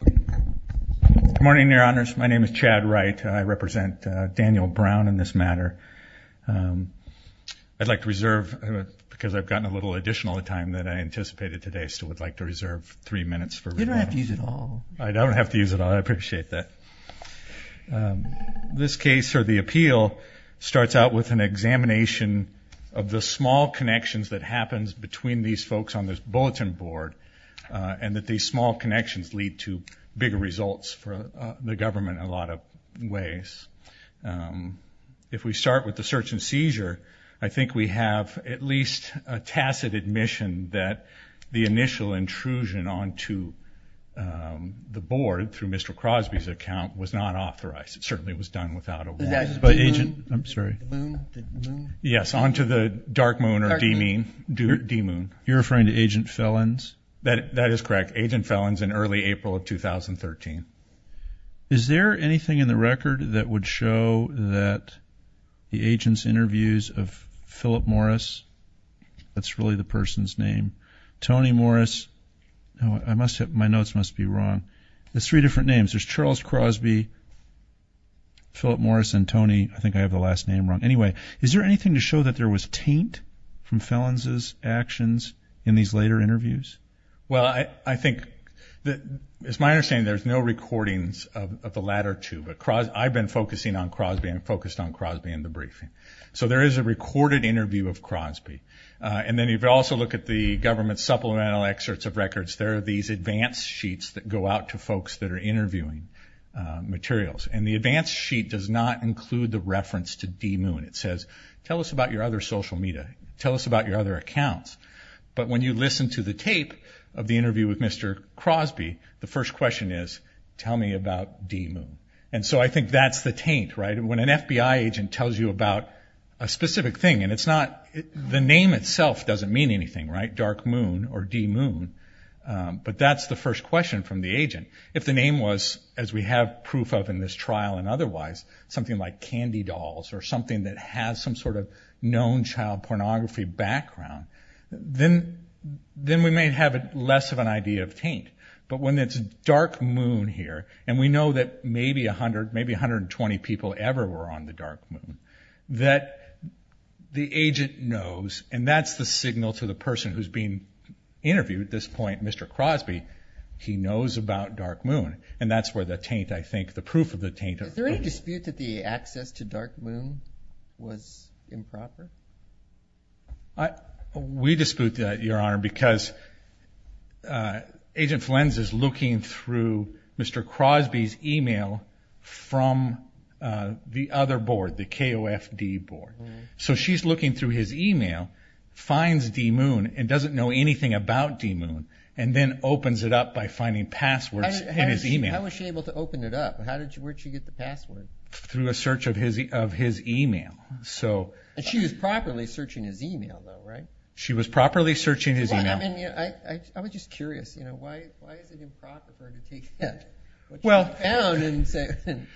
Good morning, your honors. My name is Chad Wright. I represent Daniel Brown in this matter. I'd like to reserve, because I've gotten a little additional time than I anticipated today, I still would like to reserve three minutes for remarks. You don't have to use it all. I don't have to use it all. I appreciate that. This case, or the appeal, starts out with an examination of the small connections that happens between these folks on this bulletin board, and that these small connections lead to bigger results for the government in a lot of ways. If we start with the search and seizure, I think we have at least a tacit admission that the initial intrusion onto the board through Mr. Crosby's account was not authorized. It certainly was done without a warrant. I'm sorry. Yes, onto the Dark Moon, or D-Moon. You're referring to Agent Felons? That is correct. Agent Felons in early April of 2013. Is there anything in the record that would show that the agent's interviews of Philip Morris, that's really the person's name, Tony Morris, my notes must be wrong, there's three different names. There's Charles Crosby, Philip Morris, and Tony. I think I have the last name wrong. Anyway, is there anything to show that there was taint from Felons' actions in these later interviews? Well, I think, it's my understanding there's no recordings of the latter two, but I've been focusing on Crosby and focused on Crosby in the briefing. So there is a recorded interview of Crosby. And then if you also look at the government supplemental excerpts of records, there are these advance sheets that go out to folks that are interviewing materials. And the advance sheet does not include the reference to D-Moon. It says, tell us about your other social media. Tell us about your other accounts. But when you listen to the tape of the interview with Mr. Crosby, the first question is, tell me about D-Moon. And so I think that's the taint, right? When an FBI agent tells you about a specific thing, and the name itself doesn't mean anything, right, Dark Moon or D-Moon, but that's the first question from the agent. If the name was, as we have proof of in this trial and otherwise, something like Candy Dolls or something that has some sort of known child pornography background, then we may have less of an idea of taint. But when it's Dark Moon here, and we know that maybe 120 people ever were on the Dark Moon, that the agent knows, and that's the signal to the person who's being interviewed at this point, Mr. Crosby, he knows about Dark Moon. And that's where the taint, I think, the proof of the taint. Is there any dispute that the access to Dark Moon was improper? We dispute that, Your Honor, because Agent Flens is looking through Mr. Crosby's e-mail from the other board, the KOFD board. So she's looking through his e-mail, finds D-Moon, and doesn't know anything about D-Moon, and then opens it up by finding passwords in his e-mail. How was she able to open it up? Where did she get the passwords? Through a search of his e-mail. And she was properly searching his e-mail, though, right? She was properly searching his e-mail. I was just curious, you know, why is it improper for her to take down and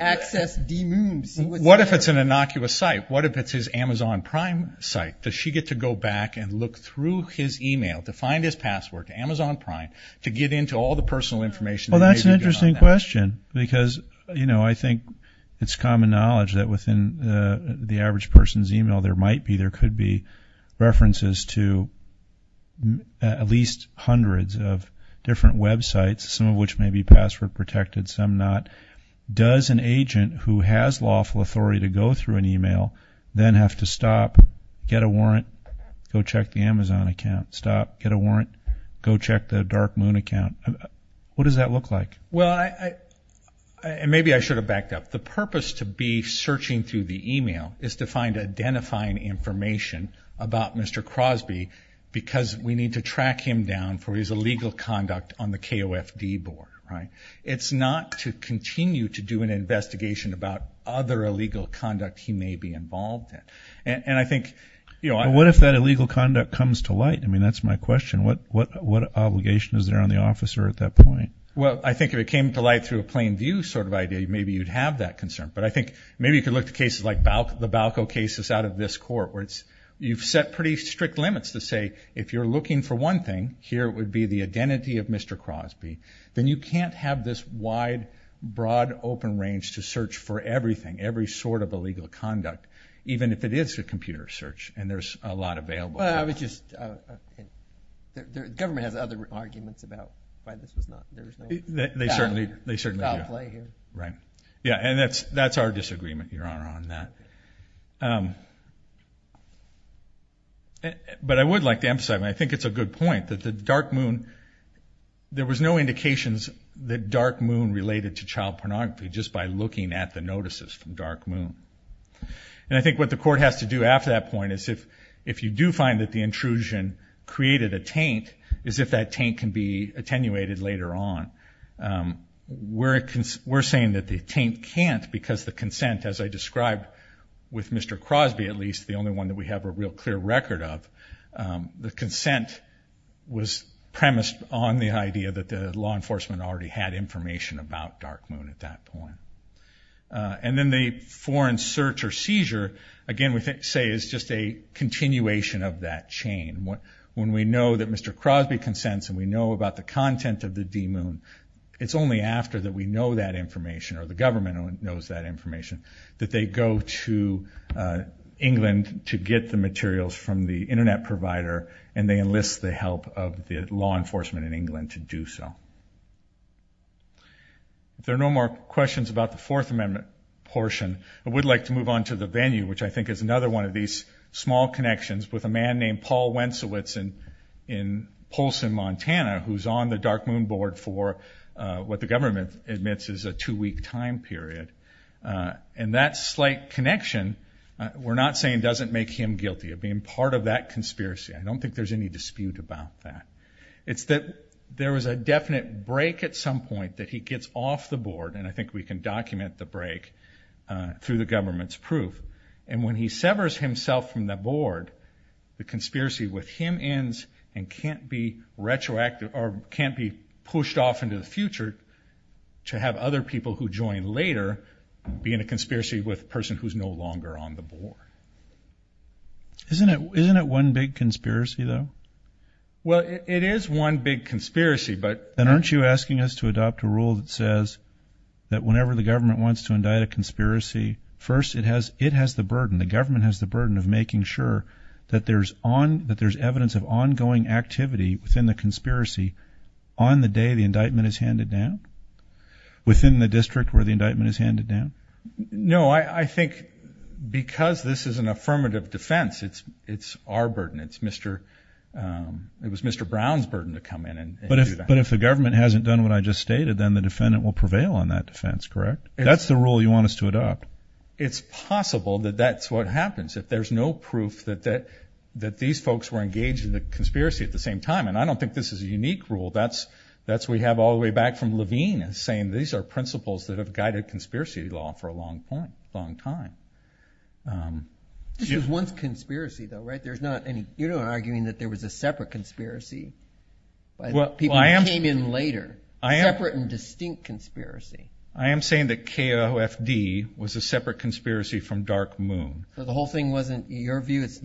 access D-Moon? What if it's an innocuous site? What if it's his Amazon Prime site? Does she get to go back and look through his e-mail to find his password, Amazon Prime, to get into all the personal information? Well, that's an interesting question because, you know, I think it's common knowledge that within the average person's e-mail there might be, there could be references to at least hundreds of different websites, some of which may be password protected, some not. Does an agent who has lawful authority to go through an e-mail then have to stop, get a warrant, go check the Amazon account, stop, get a warrant, go check the Dark Moon account? What does that look like? Well, and maybe I should have backed up. The purpose to be searching through the e-mail is to find identifying information about Mr. Crosby because we need to track him down for his illegal conduct on the KOFD board, right? It's not to continue to do an investigation about other illegal conduct he may be involved in. And I think, you know, I'm going to. But what if that illegal conduct comes to light? I mean, that's my question. What obligation is there on the officer at that point? Well, I think if it came to light through a plain view sort of idea, maybe you'd have that concern. But I think maybe you could look at cases like the Balco cases out of this court where you've set pretty strict limits to say if you're looking for one thing, here would be the identity of Mr. Crosby, then you can't have this wide, broad, open range to search for everything, every sort of illegal conduct, even if it is a computer search and there's a lot available. Well, I was just going to say the government has other arguments about why this was not there. They certainly do. Right. Yeah, and that's our disagreement, Your Honor, on that. But I would like to emphasize, and I think it's a good point, that the Dark Moon, there was no indications that Dark Moon related to child pornography just by looking at the notices from Dark Moon. And I think what the court has to do after that point is if you do find that the intrusion created a taint, is if that taint can be attenuated later on. We're saying that the taint can't because the consent, as I described with Mr. Crosby at least, the only one that we have a real clear record of, the consent was premised on the idea that the law enforcement already had information about Dark Moon at that point. And then the foreign search or seizure, again, we say is just a continuation of that chain. When we know that Mr. Crosby consents and we know about the content of the D-Moon, it's only after that we know that information or the government knows that information that they go to England to get the materials from the Internet provider and they enlist the help of the law enforcement in England to do so. If there are no more questions about the Fourth Amendment portion, I would like to move on to the venue, which I think is another one of these small connections with a man named Paul Wentzowitz in Polson, Montana, who's on the Dark Moon board for what the government admits is a two-week time period. And that slight connection, we're not saying doesn't make him guilty of being part of that conspiracy. I don't think there's any dispute about that. It's that there was a definite break at some point that he gets off the board, and I think we can document the break through the government's proof. And when he severs himself from the board, the conspiracy with him ends and can't be pushed off into the future to have other people who join later be in a conspiracy with a person who's no longer on the board. Isn't it one big conspiracy, though? Well, it is one big conspiracy, but— Then aren't you asking us to adopt a rule that says that whenever the government wants to indict a conspiracy, first it has the burden, the government has the burden of making sure that there's evidence of ongoing activity within the conspiracy on the day the indictment is handed down, within the district where the indictment is handed down? No, I think because this is an affirmative defense, it's our burden. It was Mr. Brown's burden to come in and do that. But if the government hasn't done what I just stated, then the defendant will prevail on that defense, correct? That's the rule you want us to adopt. It's possible that that's what happens if there's no proof that these folks were engaged in the conspiracy at the same time. And I don't think this is a unique rule. That's what we have all the way back from Levine, saying these are principles that have guided conspiracy law for a long time. This was once a conspiracy, though, right? You're not arguing that there was a separate conspiracy. People came in later. Separate and distinct conspiracy. I am saying that KOFD was a separate conspiracy from Dark Moon. So the whole thing wasn't your view? These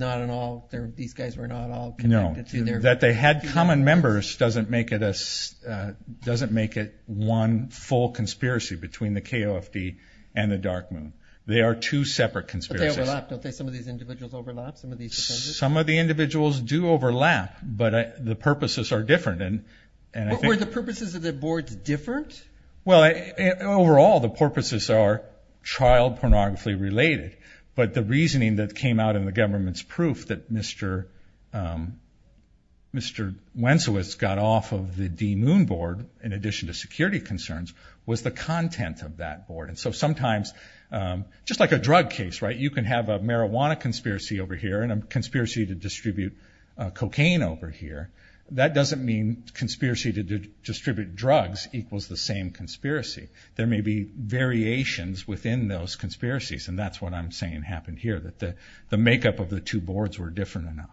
guys were not all connected to their view? No, that they had common members doesn't make it one full conspiracy between the KOFD and the Dark Moon. They are two separate conspiracies. But they overlap, don't they? Some of these individuals overlap? Some of the individuals do overlap, but the purposes are different. Were the purposes of the boards different? Well, overall, the purposes are child pornographically related, but the reasoning that came out in the government's proof that Mr. Wentziewicz got off of the D-Moon board, in addition to security concerns, was the content of that board. So sometimes, just like a drug case, right? You can have a marijuana conspiracy over here and a conspiracy to distribute cocaine over here. That doesn't mean conspiracy to distribute drugs equals the same conspiracy. There may be variations within those conspiracies, and that's what I'm saying happened here, that the makeup of the two boards were different enough.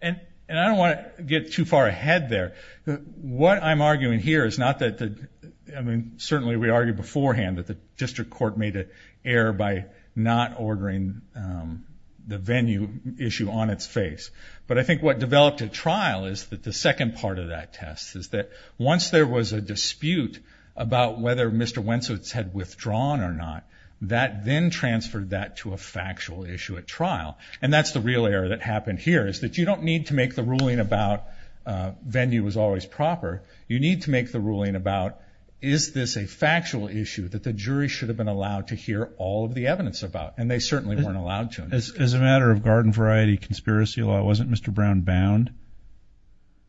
And I don't want to get too far ahead there. What I'm arguing here is not that the – I mean, certainly we argued beforehand that the district court made an error by not ordering the venue issue on its face. But I think what developed at trial is that the second part of that test is that once there was a dispute about whether Mr. Wentziewicz had withdrawn or not, that then transferred that to a factual issue at trial. And that's the real error that happened here, is that you don't need to make the ruling about venue was always proper. You need to make the ruling about is this a factual issue that the jury should have been allowed to hear all of the evidence about, and they certainly weren't allowed to. As a matter of garden variety conspiracy law, wasn't Mr. Brown bound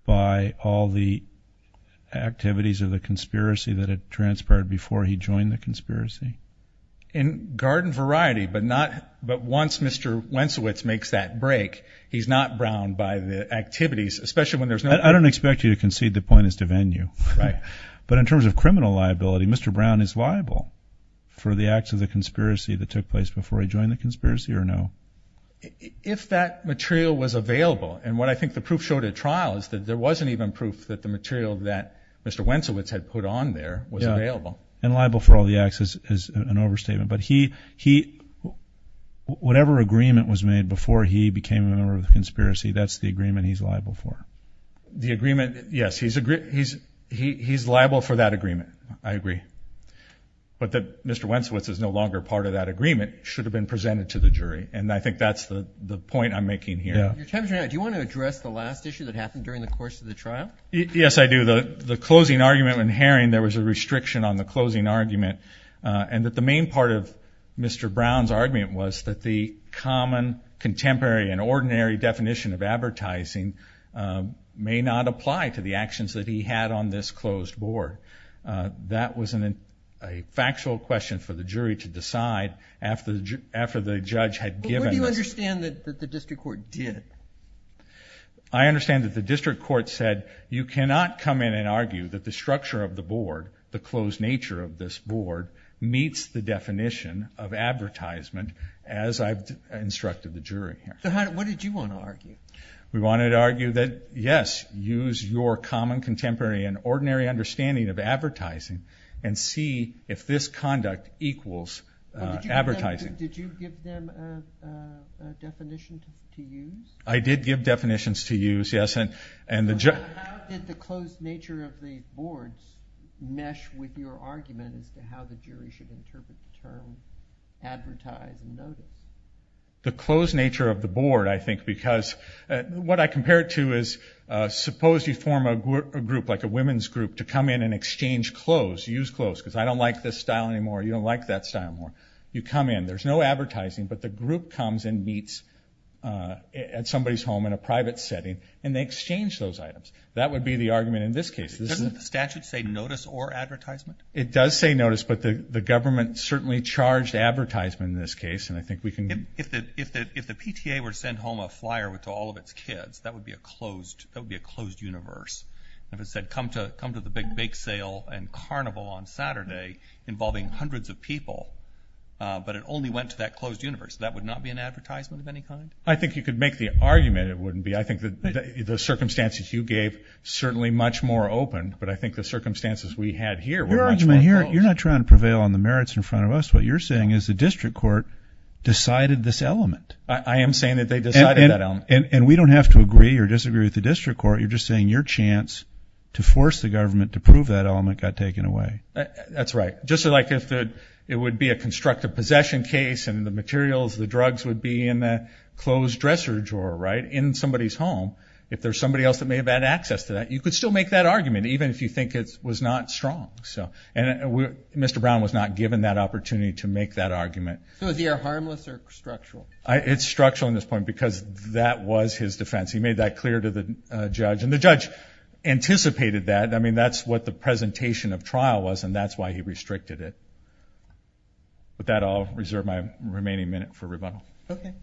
by all the activities of the conspiracy that had transpired before he joined the conspiracy? In garden variety, but once Mr. Wentziewicz makes that break, he's not bound by the activities, especially when there's no – I don't expect you to concede the point as to venue. Right. But in terms of criminal liability, Mr. Brown is liable for the acts of the conspiracy that took place before he joined the conspiracy or no? If that material was available, and what I think the proof showed at trial is that there wasn't even proof that the material that Mr. Wentziewicz had put on there was available. And liable for all the acts is an overstatement. But he – whatever agreement was made before he became a member of the conspiracy, that's the agreement he's liable for. The agreement – yes, he's liable for that agreement. I agree. But that Mr. Wentziewicz is no longer part of that agreement should have been presented to the jury, and I think that's the point I'm making here. Your time is running out. Do you want to address the last issue that happened during the course of the trial? Yes, I do. The closing argument when Haring – there was a restriction on the closing argument and that the main part of Mr. Brown's argument was that the common, contemporary, and ordinary definition of advertising may not apply to the actions that he had on this closed board. That was a factual question for the jury to decide after the judge had given – But what do you understand that the district court did? I understand that the district court said, you cannot come in and argue that the structure of the board, the closed nature of this board, meets the definition of advertisement as I've instructed the jury here. So what did you want to argue? We wanted to argue that, yes, use your common, contemporary, and ordinary understanding of advertising and see if this conduct equals advertising. Did you give them a definition to use? I did give definitions to use, yes. How did the closed nature of the board mesh with your argument as to how the jury should interpret the term advertise and notice? The closed nature of the board, I think, because what I compare it to is, suppose you form a group, like a women's group, to come in and exchange clothes, use clothes, because I don't like this style anymore, you don't like that style anymore. You come in. There's no advertising, but the group comes and meets at somebody's home in a private setting and they exchange those items. That would be the argument in this case. Doesn't the statute say notice or advertisement? It does say notice, but the government certainly charged advertisement in this case. If the PTA were to send home a flyer to all of its kids, that would be a closed universe. If it said, come to the big bake sale and carnival on Saturday involving hundreds of people, but it only went to that closed universe, that would not be an advertisement of any kind? I think you could make the argument it wouldn't be. I think the circumstances you gave certainly much more open, but I think the circumstances we had here were much more closed. You're not trying to prevail on the merits in front of us. What you're saying is the district court decided this element. I am saying that they decided that element. And we don't have to agree or disagree with the district court. You're just saying your chance to force the government to prove that element got taken away. That's right. Just like if it would be a constructive possession case and the materials, the drugs would be in a closed dresser drawer, right, in somebody's home, if there's somebody else that may have had access to that, you could still make that argument, even if you think it was not strong. And Mr. Brown was not given that opportunity to make that argument. So is the air harmless or structural? It's structural in this point because that was his defense. He made that clear to the judge, and the judge anticipated that. I mean, that's what the presentation of trial was, and that's why he restricted it. With that, I'll reserve my remaining minute for rebuttal. Okay.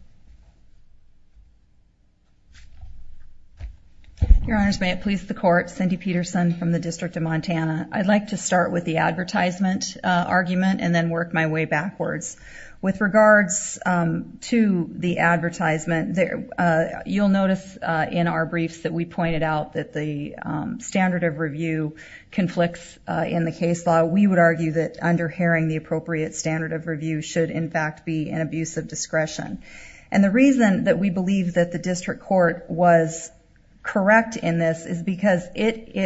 Your Honors, may it please the Court, Cindy Peterson from the District of Montana. I'd like to start with the advertisement argument and then work my way backwards. With regards to the advertisement, you'll notice in our briefs that we pointed out that the standard of review conflicts in the case law. We would argue that underhering the appropriate standard of review should, in fact, be an abuse of discretion. And the reason that we believe that the district court was correct in this is because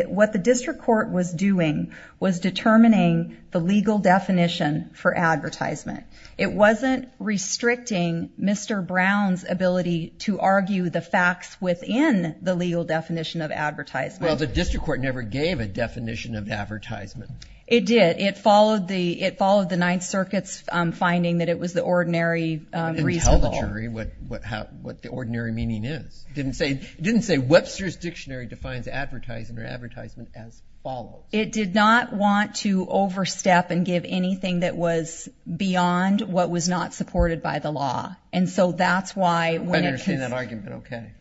what the district court was doing was determining the legal definition for advertisement. It wasn't restricting Mr. Brown's ability to argue the facts within the legal definition of advertisement. Well, the district court never gave a definition of advertisement. It did. It followed the Ninth Circuit's finding that it was the ordinary reasonable. It didn't tell the jury what the ordinary meaning is. It didn't say Webster's Dictionary defines advertisement as follows. It did not want to overstep and give anything that was beyond what was not supported by the law. And so that's why when it was... I understand that argument, okay.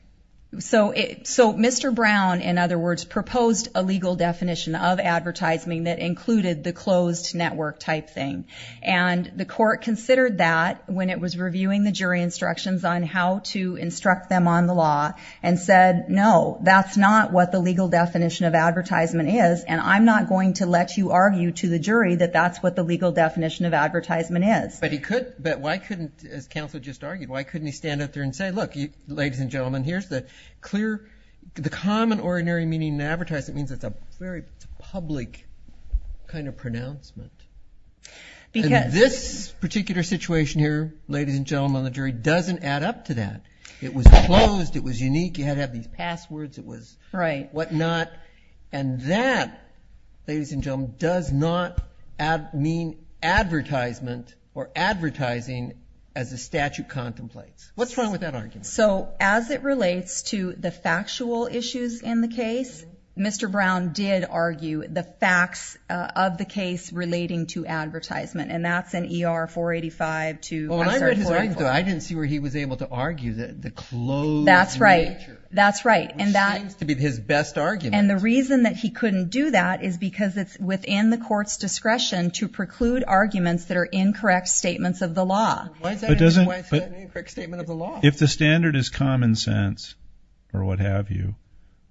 So Mr. Brown, in other words, proposed a legal definition of advertisement that included the closed network type thing. And the court considered that when it was reviewing the jury instructions on how to instruct them on the law and said, no, that's not what the legal definition of advertisement is, and I'm not going to let you argue to the jury that that's what the legal definition of advertisement is. But why couldn't, as counsel just argued, why couldn't he stand up there and say, look, ladies and gentlemen, here's the clear, the common ordinary meaning of advertisement. It means it's a very public kind of pronouncement. And this particular situation here, ladies and gentlemen on the jury, doesn't add up to that. It was closed. It was unique. You had to have these passwords. It was whatnot. And that, ladies and gentlemen, does not mean advertisement or advertising as the statute contemplates. What's wrong with that argument? So as it relates to the factual issues in the case, Mr. Brown did argue the facts of the case relating to advertisement. And that's in ER 485-2. Well, when I read his argument, though, I didn't see where he was able to argue the closed nature. That's right. That's right. Which seems to be his best argument. And the reason that he couldn't do that is because it's within the court's discretion to preclude arguments that are incorrect statements of the law. Why is that an incorrect statement of the law? If the standard is common sense or what have you,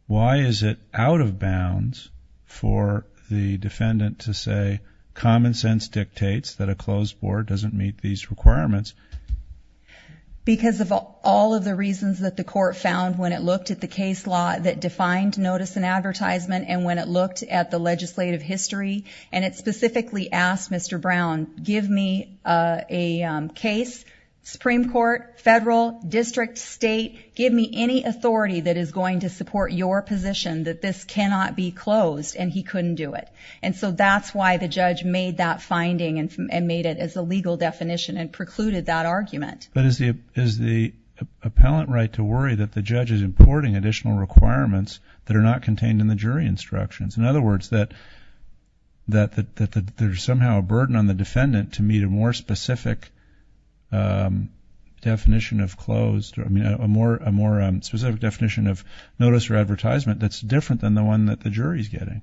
why is it out of bounds for the defendant to say common sense dictates that a closed board doesn't meet these requirements? Because of all of the reasons that the court found when it looked at the case law that defined notice and advertisement and when it looked at the legislative history, and it specifically asked Mr. Brown, give me a case, Supreme Court, federal, district, state, give me any authority that is going to support your position that this cannot be closed. And he couldn't do it. And so that's why the judge made that finding and made it as a legal definition and precluded that argument. But is the appellant right to worry that the judge is importing additional requirements that are not contained in the jury instructions? In other words, that there's somehow a burden on the defendant to meet a more specific definition of closed, a more specific definition of notice or advertisement that's different than the one that the jury is getting.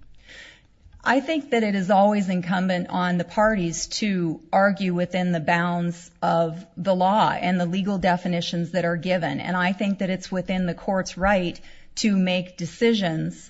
I think that it is always incumbent on the parties to argue within the bounds of the law and the legal definitions that are given. And I think that it's within the court's right to make decisions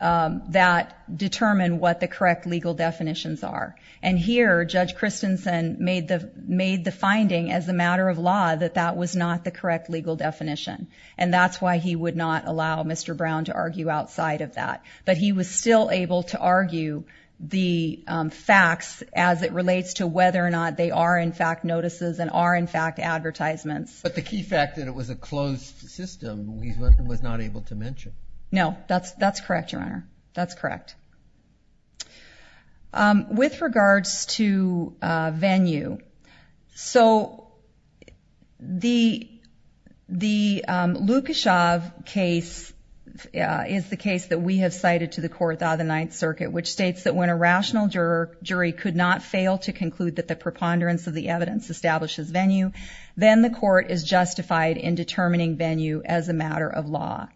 that determine what the correct legal definitions are. And here, Judge Christensen made the finding as a matter of law that that was not the correct legal definition. And that's why he would not allow Mr. Brown to argue outside of that. But he was still able to argue the facts as it relates to whether or not they are, in fact, notices and are, in fact, advertisements. But the key fact that it was a closed system, he was not able to mention. No, that's correct, Your Honor. That's correct. With regards to venue, so the Lukashev case is the case that we have cited to the Court of the Ninth Circuit, which states that when a rational jury could not fail to conclude that the preponderance of the evidence establishes venue, then the court is justified in determining venue as a matter of law.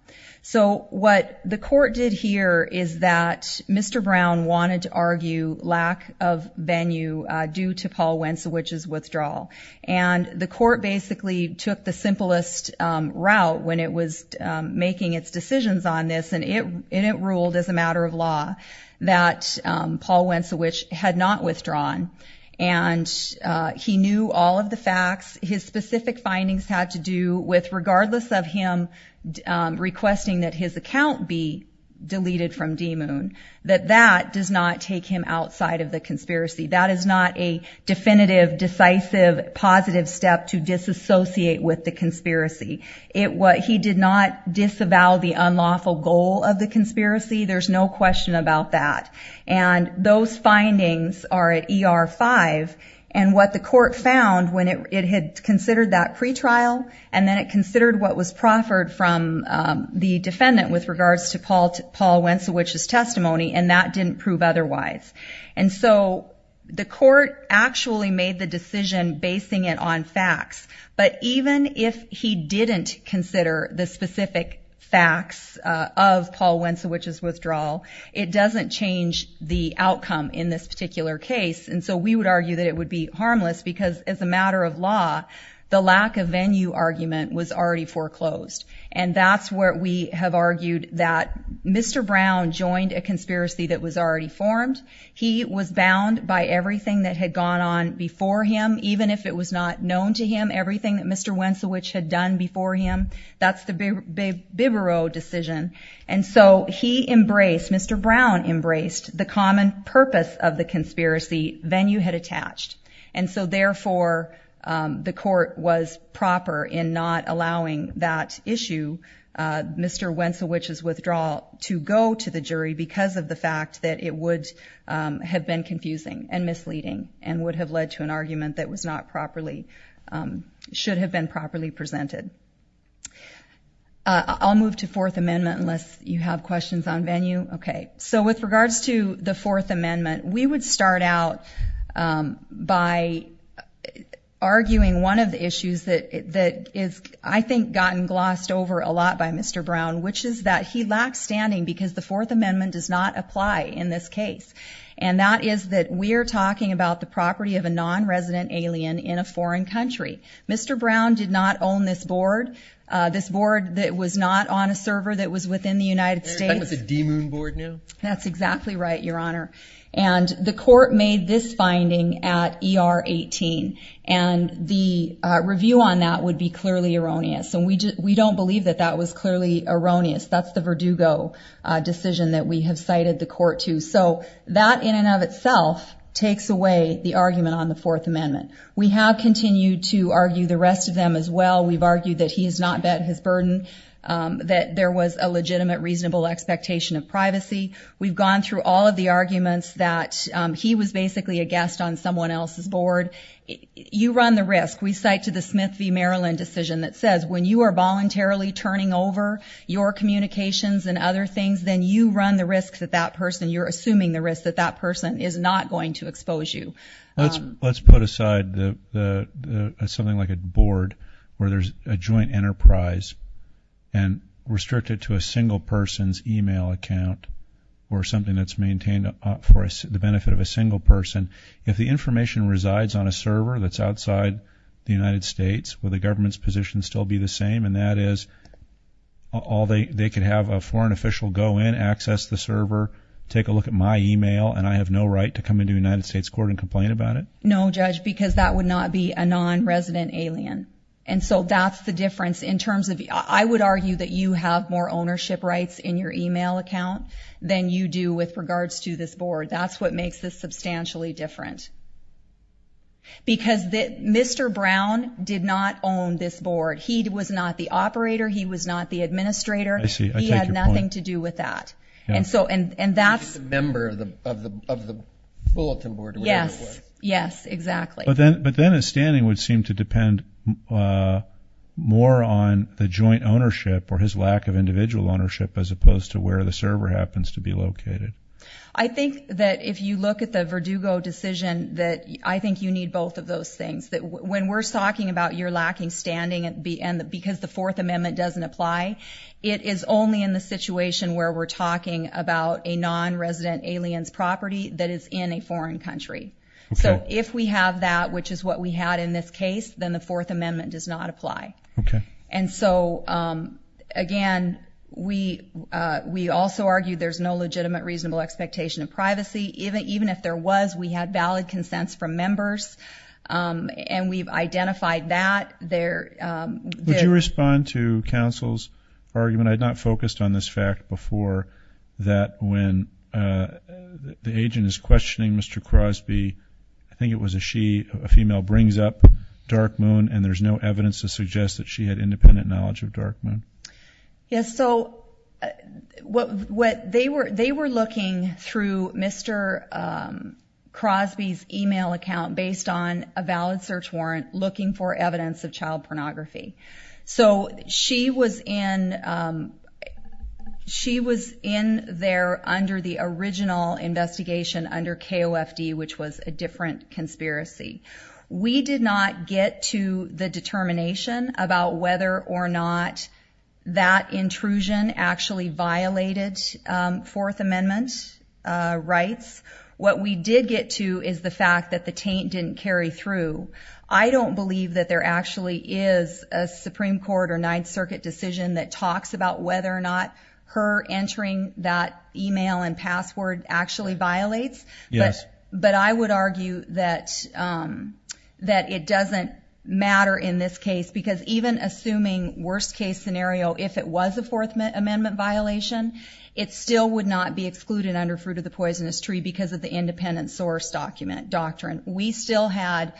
So what the court did here is that Mr. Brown wanted to argue lack of venue due to Paul Wentziewicz's withdrawal. And the court basically took the simplest route when it was making its decisions on this, and it ruled as a matter of law that Paul Wentziewicz had not withdrawn. And he knew all of the facts. His specific findings had to do with, regardless of him requesting that his account be deleted from DMUN, that that does not take him outside of the conspiracy. That is not a definitive, decisive, positive step to disassociate with the conspiracy. He did not disavow the unlawful goal of the conspiracy. There's no question about that. And those findings are at ER 5. And what the court found when it had considered that pretrial, and then it considered what was proffered from the defendant with regards to Paul Wentziewicz's testimony, and that didn't prove otherwise. And so the court actually made the decision basing it on facts. But even if he didn't consider the specific facts of Paul Wentziewicz's withdrawal, it doesn't change the outcome in this particular case. And so we would argue that it would be harmless because, as a matter of law, the lack of venue argument was already foreclosed. And that's where we have argued that Mr. Brown joined a conspiracy that was already formed. He was bound by everything that had gone on before him, even if it was not known to him, everything that Mr. Wentziewicz had done before him. That's the Bibereau decision. And so he embraced, Mr. Brown embraced, the common purpose of the conspiracy venue had attached. And so, therefore, the court was proper in not allowing that issue, Mr. Wentziewicz's withdrawal, to go to the jury because of the fact that it would have been confusing and misleading and would have led to an argument that was not properly, should have been properly presented. I'll move to Fourth Amendment unless you have questions on venue. Okay. So with regards to the Fourth Amendment, we would start out by arguing one of the issues that has, I think, gotten glossed over a lot by Mr. Brown, which is that he lacks standing because the Fourth Amendment does not apply in this case. And that is that we are talking about the property of a non-resident alien in a foreign country. Mr. Brown did not own this board, this board that was not on a server that was within the United States. Are you talking about the D-Moon board now? That's exactly right, Your Honor. And the court made this finding at ER 18, and the review on that would be clearly erroneous. And we don't believe that that was clearly erroneous. That's the Verdugo decision that we have cited the court to. So that, in and of itself, takes away the argument on the Fourth Amendment. We have continued to argue the rest of them as well. We've argued that he has not met his burden, that there was a legitimate, reasonable expectation of privacy. We've gone through all of the arguments that he was basically a guest on someone else's board. You run the risk. We cite to the Smith v. Maryland decision that says when you are voluntarily turning over your communications and other things, then you run the risk that that person, you're assuming the risk that that person is not going to expose you. Let's put aside something like a board where there's a joint enterprise and restrict it to a single person's e-mail account or something that's maintained for the benefit of a single person. If the information resides on a server that's outside the United States, will the government's position still be the same? And that is, they could have a foreign official go in, access the server, take a look at my e-mail, and I have no right to come into a United States court and complain about it? No, Judge, because that would not be a non-resident alien. And so that's the difference. I would argue that you have more ownership rights in your e-mail account than you do with regards to this board. That's what makes this substantially different. Because Mr. Brown did not own this board. He was not the operator. He was not the administrator. I see. I take your point. He had nothing to do with that. He's just a member of the bulletin board or whatever it was. Yes, exactly. But then his standing would seem to depend more on the joint ownership or his lack of individual ownership as opposed to where the server happens to be located. I think that if you look at the Verdugo decision that I think you need both of those things. When we're talking about you're lacking standing because the Fourth Amendment doesn't apply, it is only in the situation where we're talking about a non-resident alien's property that is in a foreign country. So if we have that, which is what we had in this case, then the Fourth Amendment does not apply. Okay. And so, again, we also argue there's no legitimate reasonable expectation of privacy. Even if there was, we had valid consents from members, and we've identified that. Would you respond to counsel's argument? I had not focused on this fact before that when the agent is questioning Mr. Crosby, I think it was a she, a female, brings up Dark Moon, and there's no evidence to suggest that she had independent knowledge of Dark Moon. Yes, so what they were looking through Mr. Crosby's e-mail account based on a valid search warrant looking for evidence of child pornography. So she was in there under the original investigation under KOFD, which was a different conspiracy. We did not get to the determination about whether or not that intrusion actually violated Fourth Amendment rights. What we did get to is the fact that the taint didn't carry through. I don't believe that there actually is a Supreme Court or Ninth Circuit decision that talks about whether or not her entering that e-mail and password actually violates. Yes. But I would argue that it doesn't matter in this case, because even assuming worst-case scenario, if it was a Fourth Amendment violation, it still would not be excluded under Fruit of the Poisonous Tree because of the independent source doctrine. We still had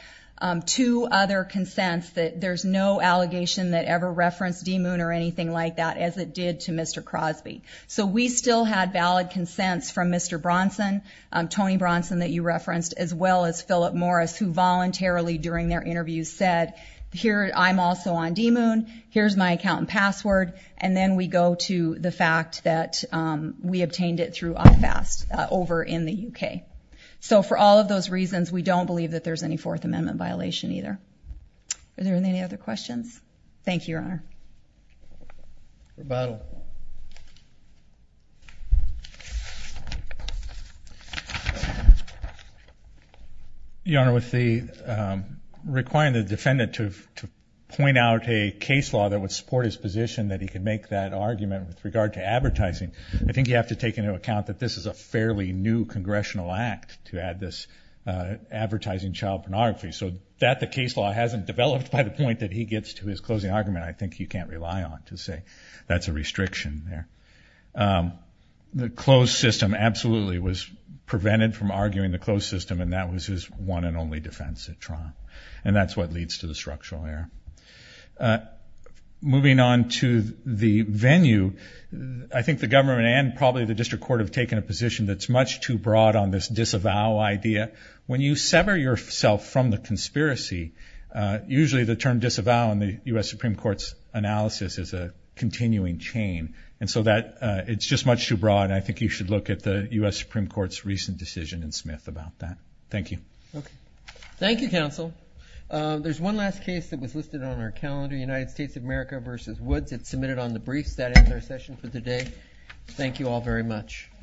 two other consents that there's no allegation that ever referenced D-Moon or anything like that as it did to Mr. Crosby. So we still had valid consents from Mr. Bronson, Tony Bronson that you referenced, as well as Philip Morris, who voluntarily during their interview said, here, I'm also on D-Moon, here's my account and password, and then we go to the fact that we obtained it through IFAST over in the U.K. So for all of those reasons, we don't believe that there's any Fourth Amendment violation either. Are there any other questions? Thank you, Your Honor. Rebuttal. Your Honor, with requiring the defendant to point out a case law that would support his position that he could make that argument with regard to advertising, I think you have to take into account that this is a fairly new congressional act to add this advertising child pornography. So that the case law hasn't developed by the point that he gets to his closing argument, I think you can't rely on to say that's a restriction there. The closed system absolutely was prevented from arguing the closed system, and that was his one and only defense at trial, and that's what leads to the structural error. Moving on to the venue, I think the government and probably the district court have taken a position that's much too broad on this disavow idea. When you sever yourself from the conspiracy, usually the term disavow in the U.S. Supreme Court's analysis is a continuing chain, and so it's just much too broad, and I think you should look at the U.S. Supreme Court's recent decision in Smith about that. Thank you. Okay. Thank you, counsel. There's one last case that was listed on our calendar, United States of America v. Woods. It's submitted on the briefs. That ends our session for today. Thank you all very much.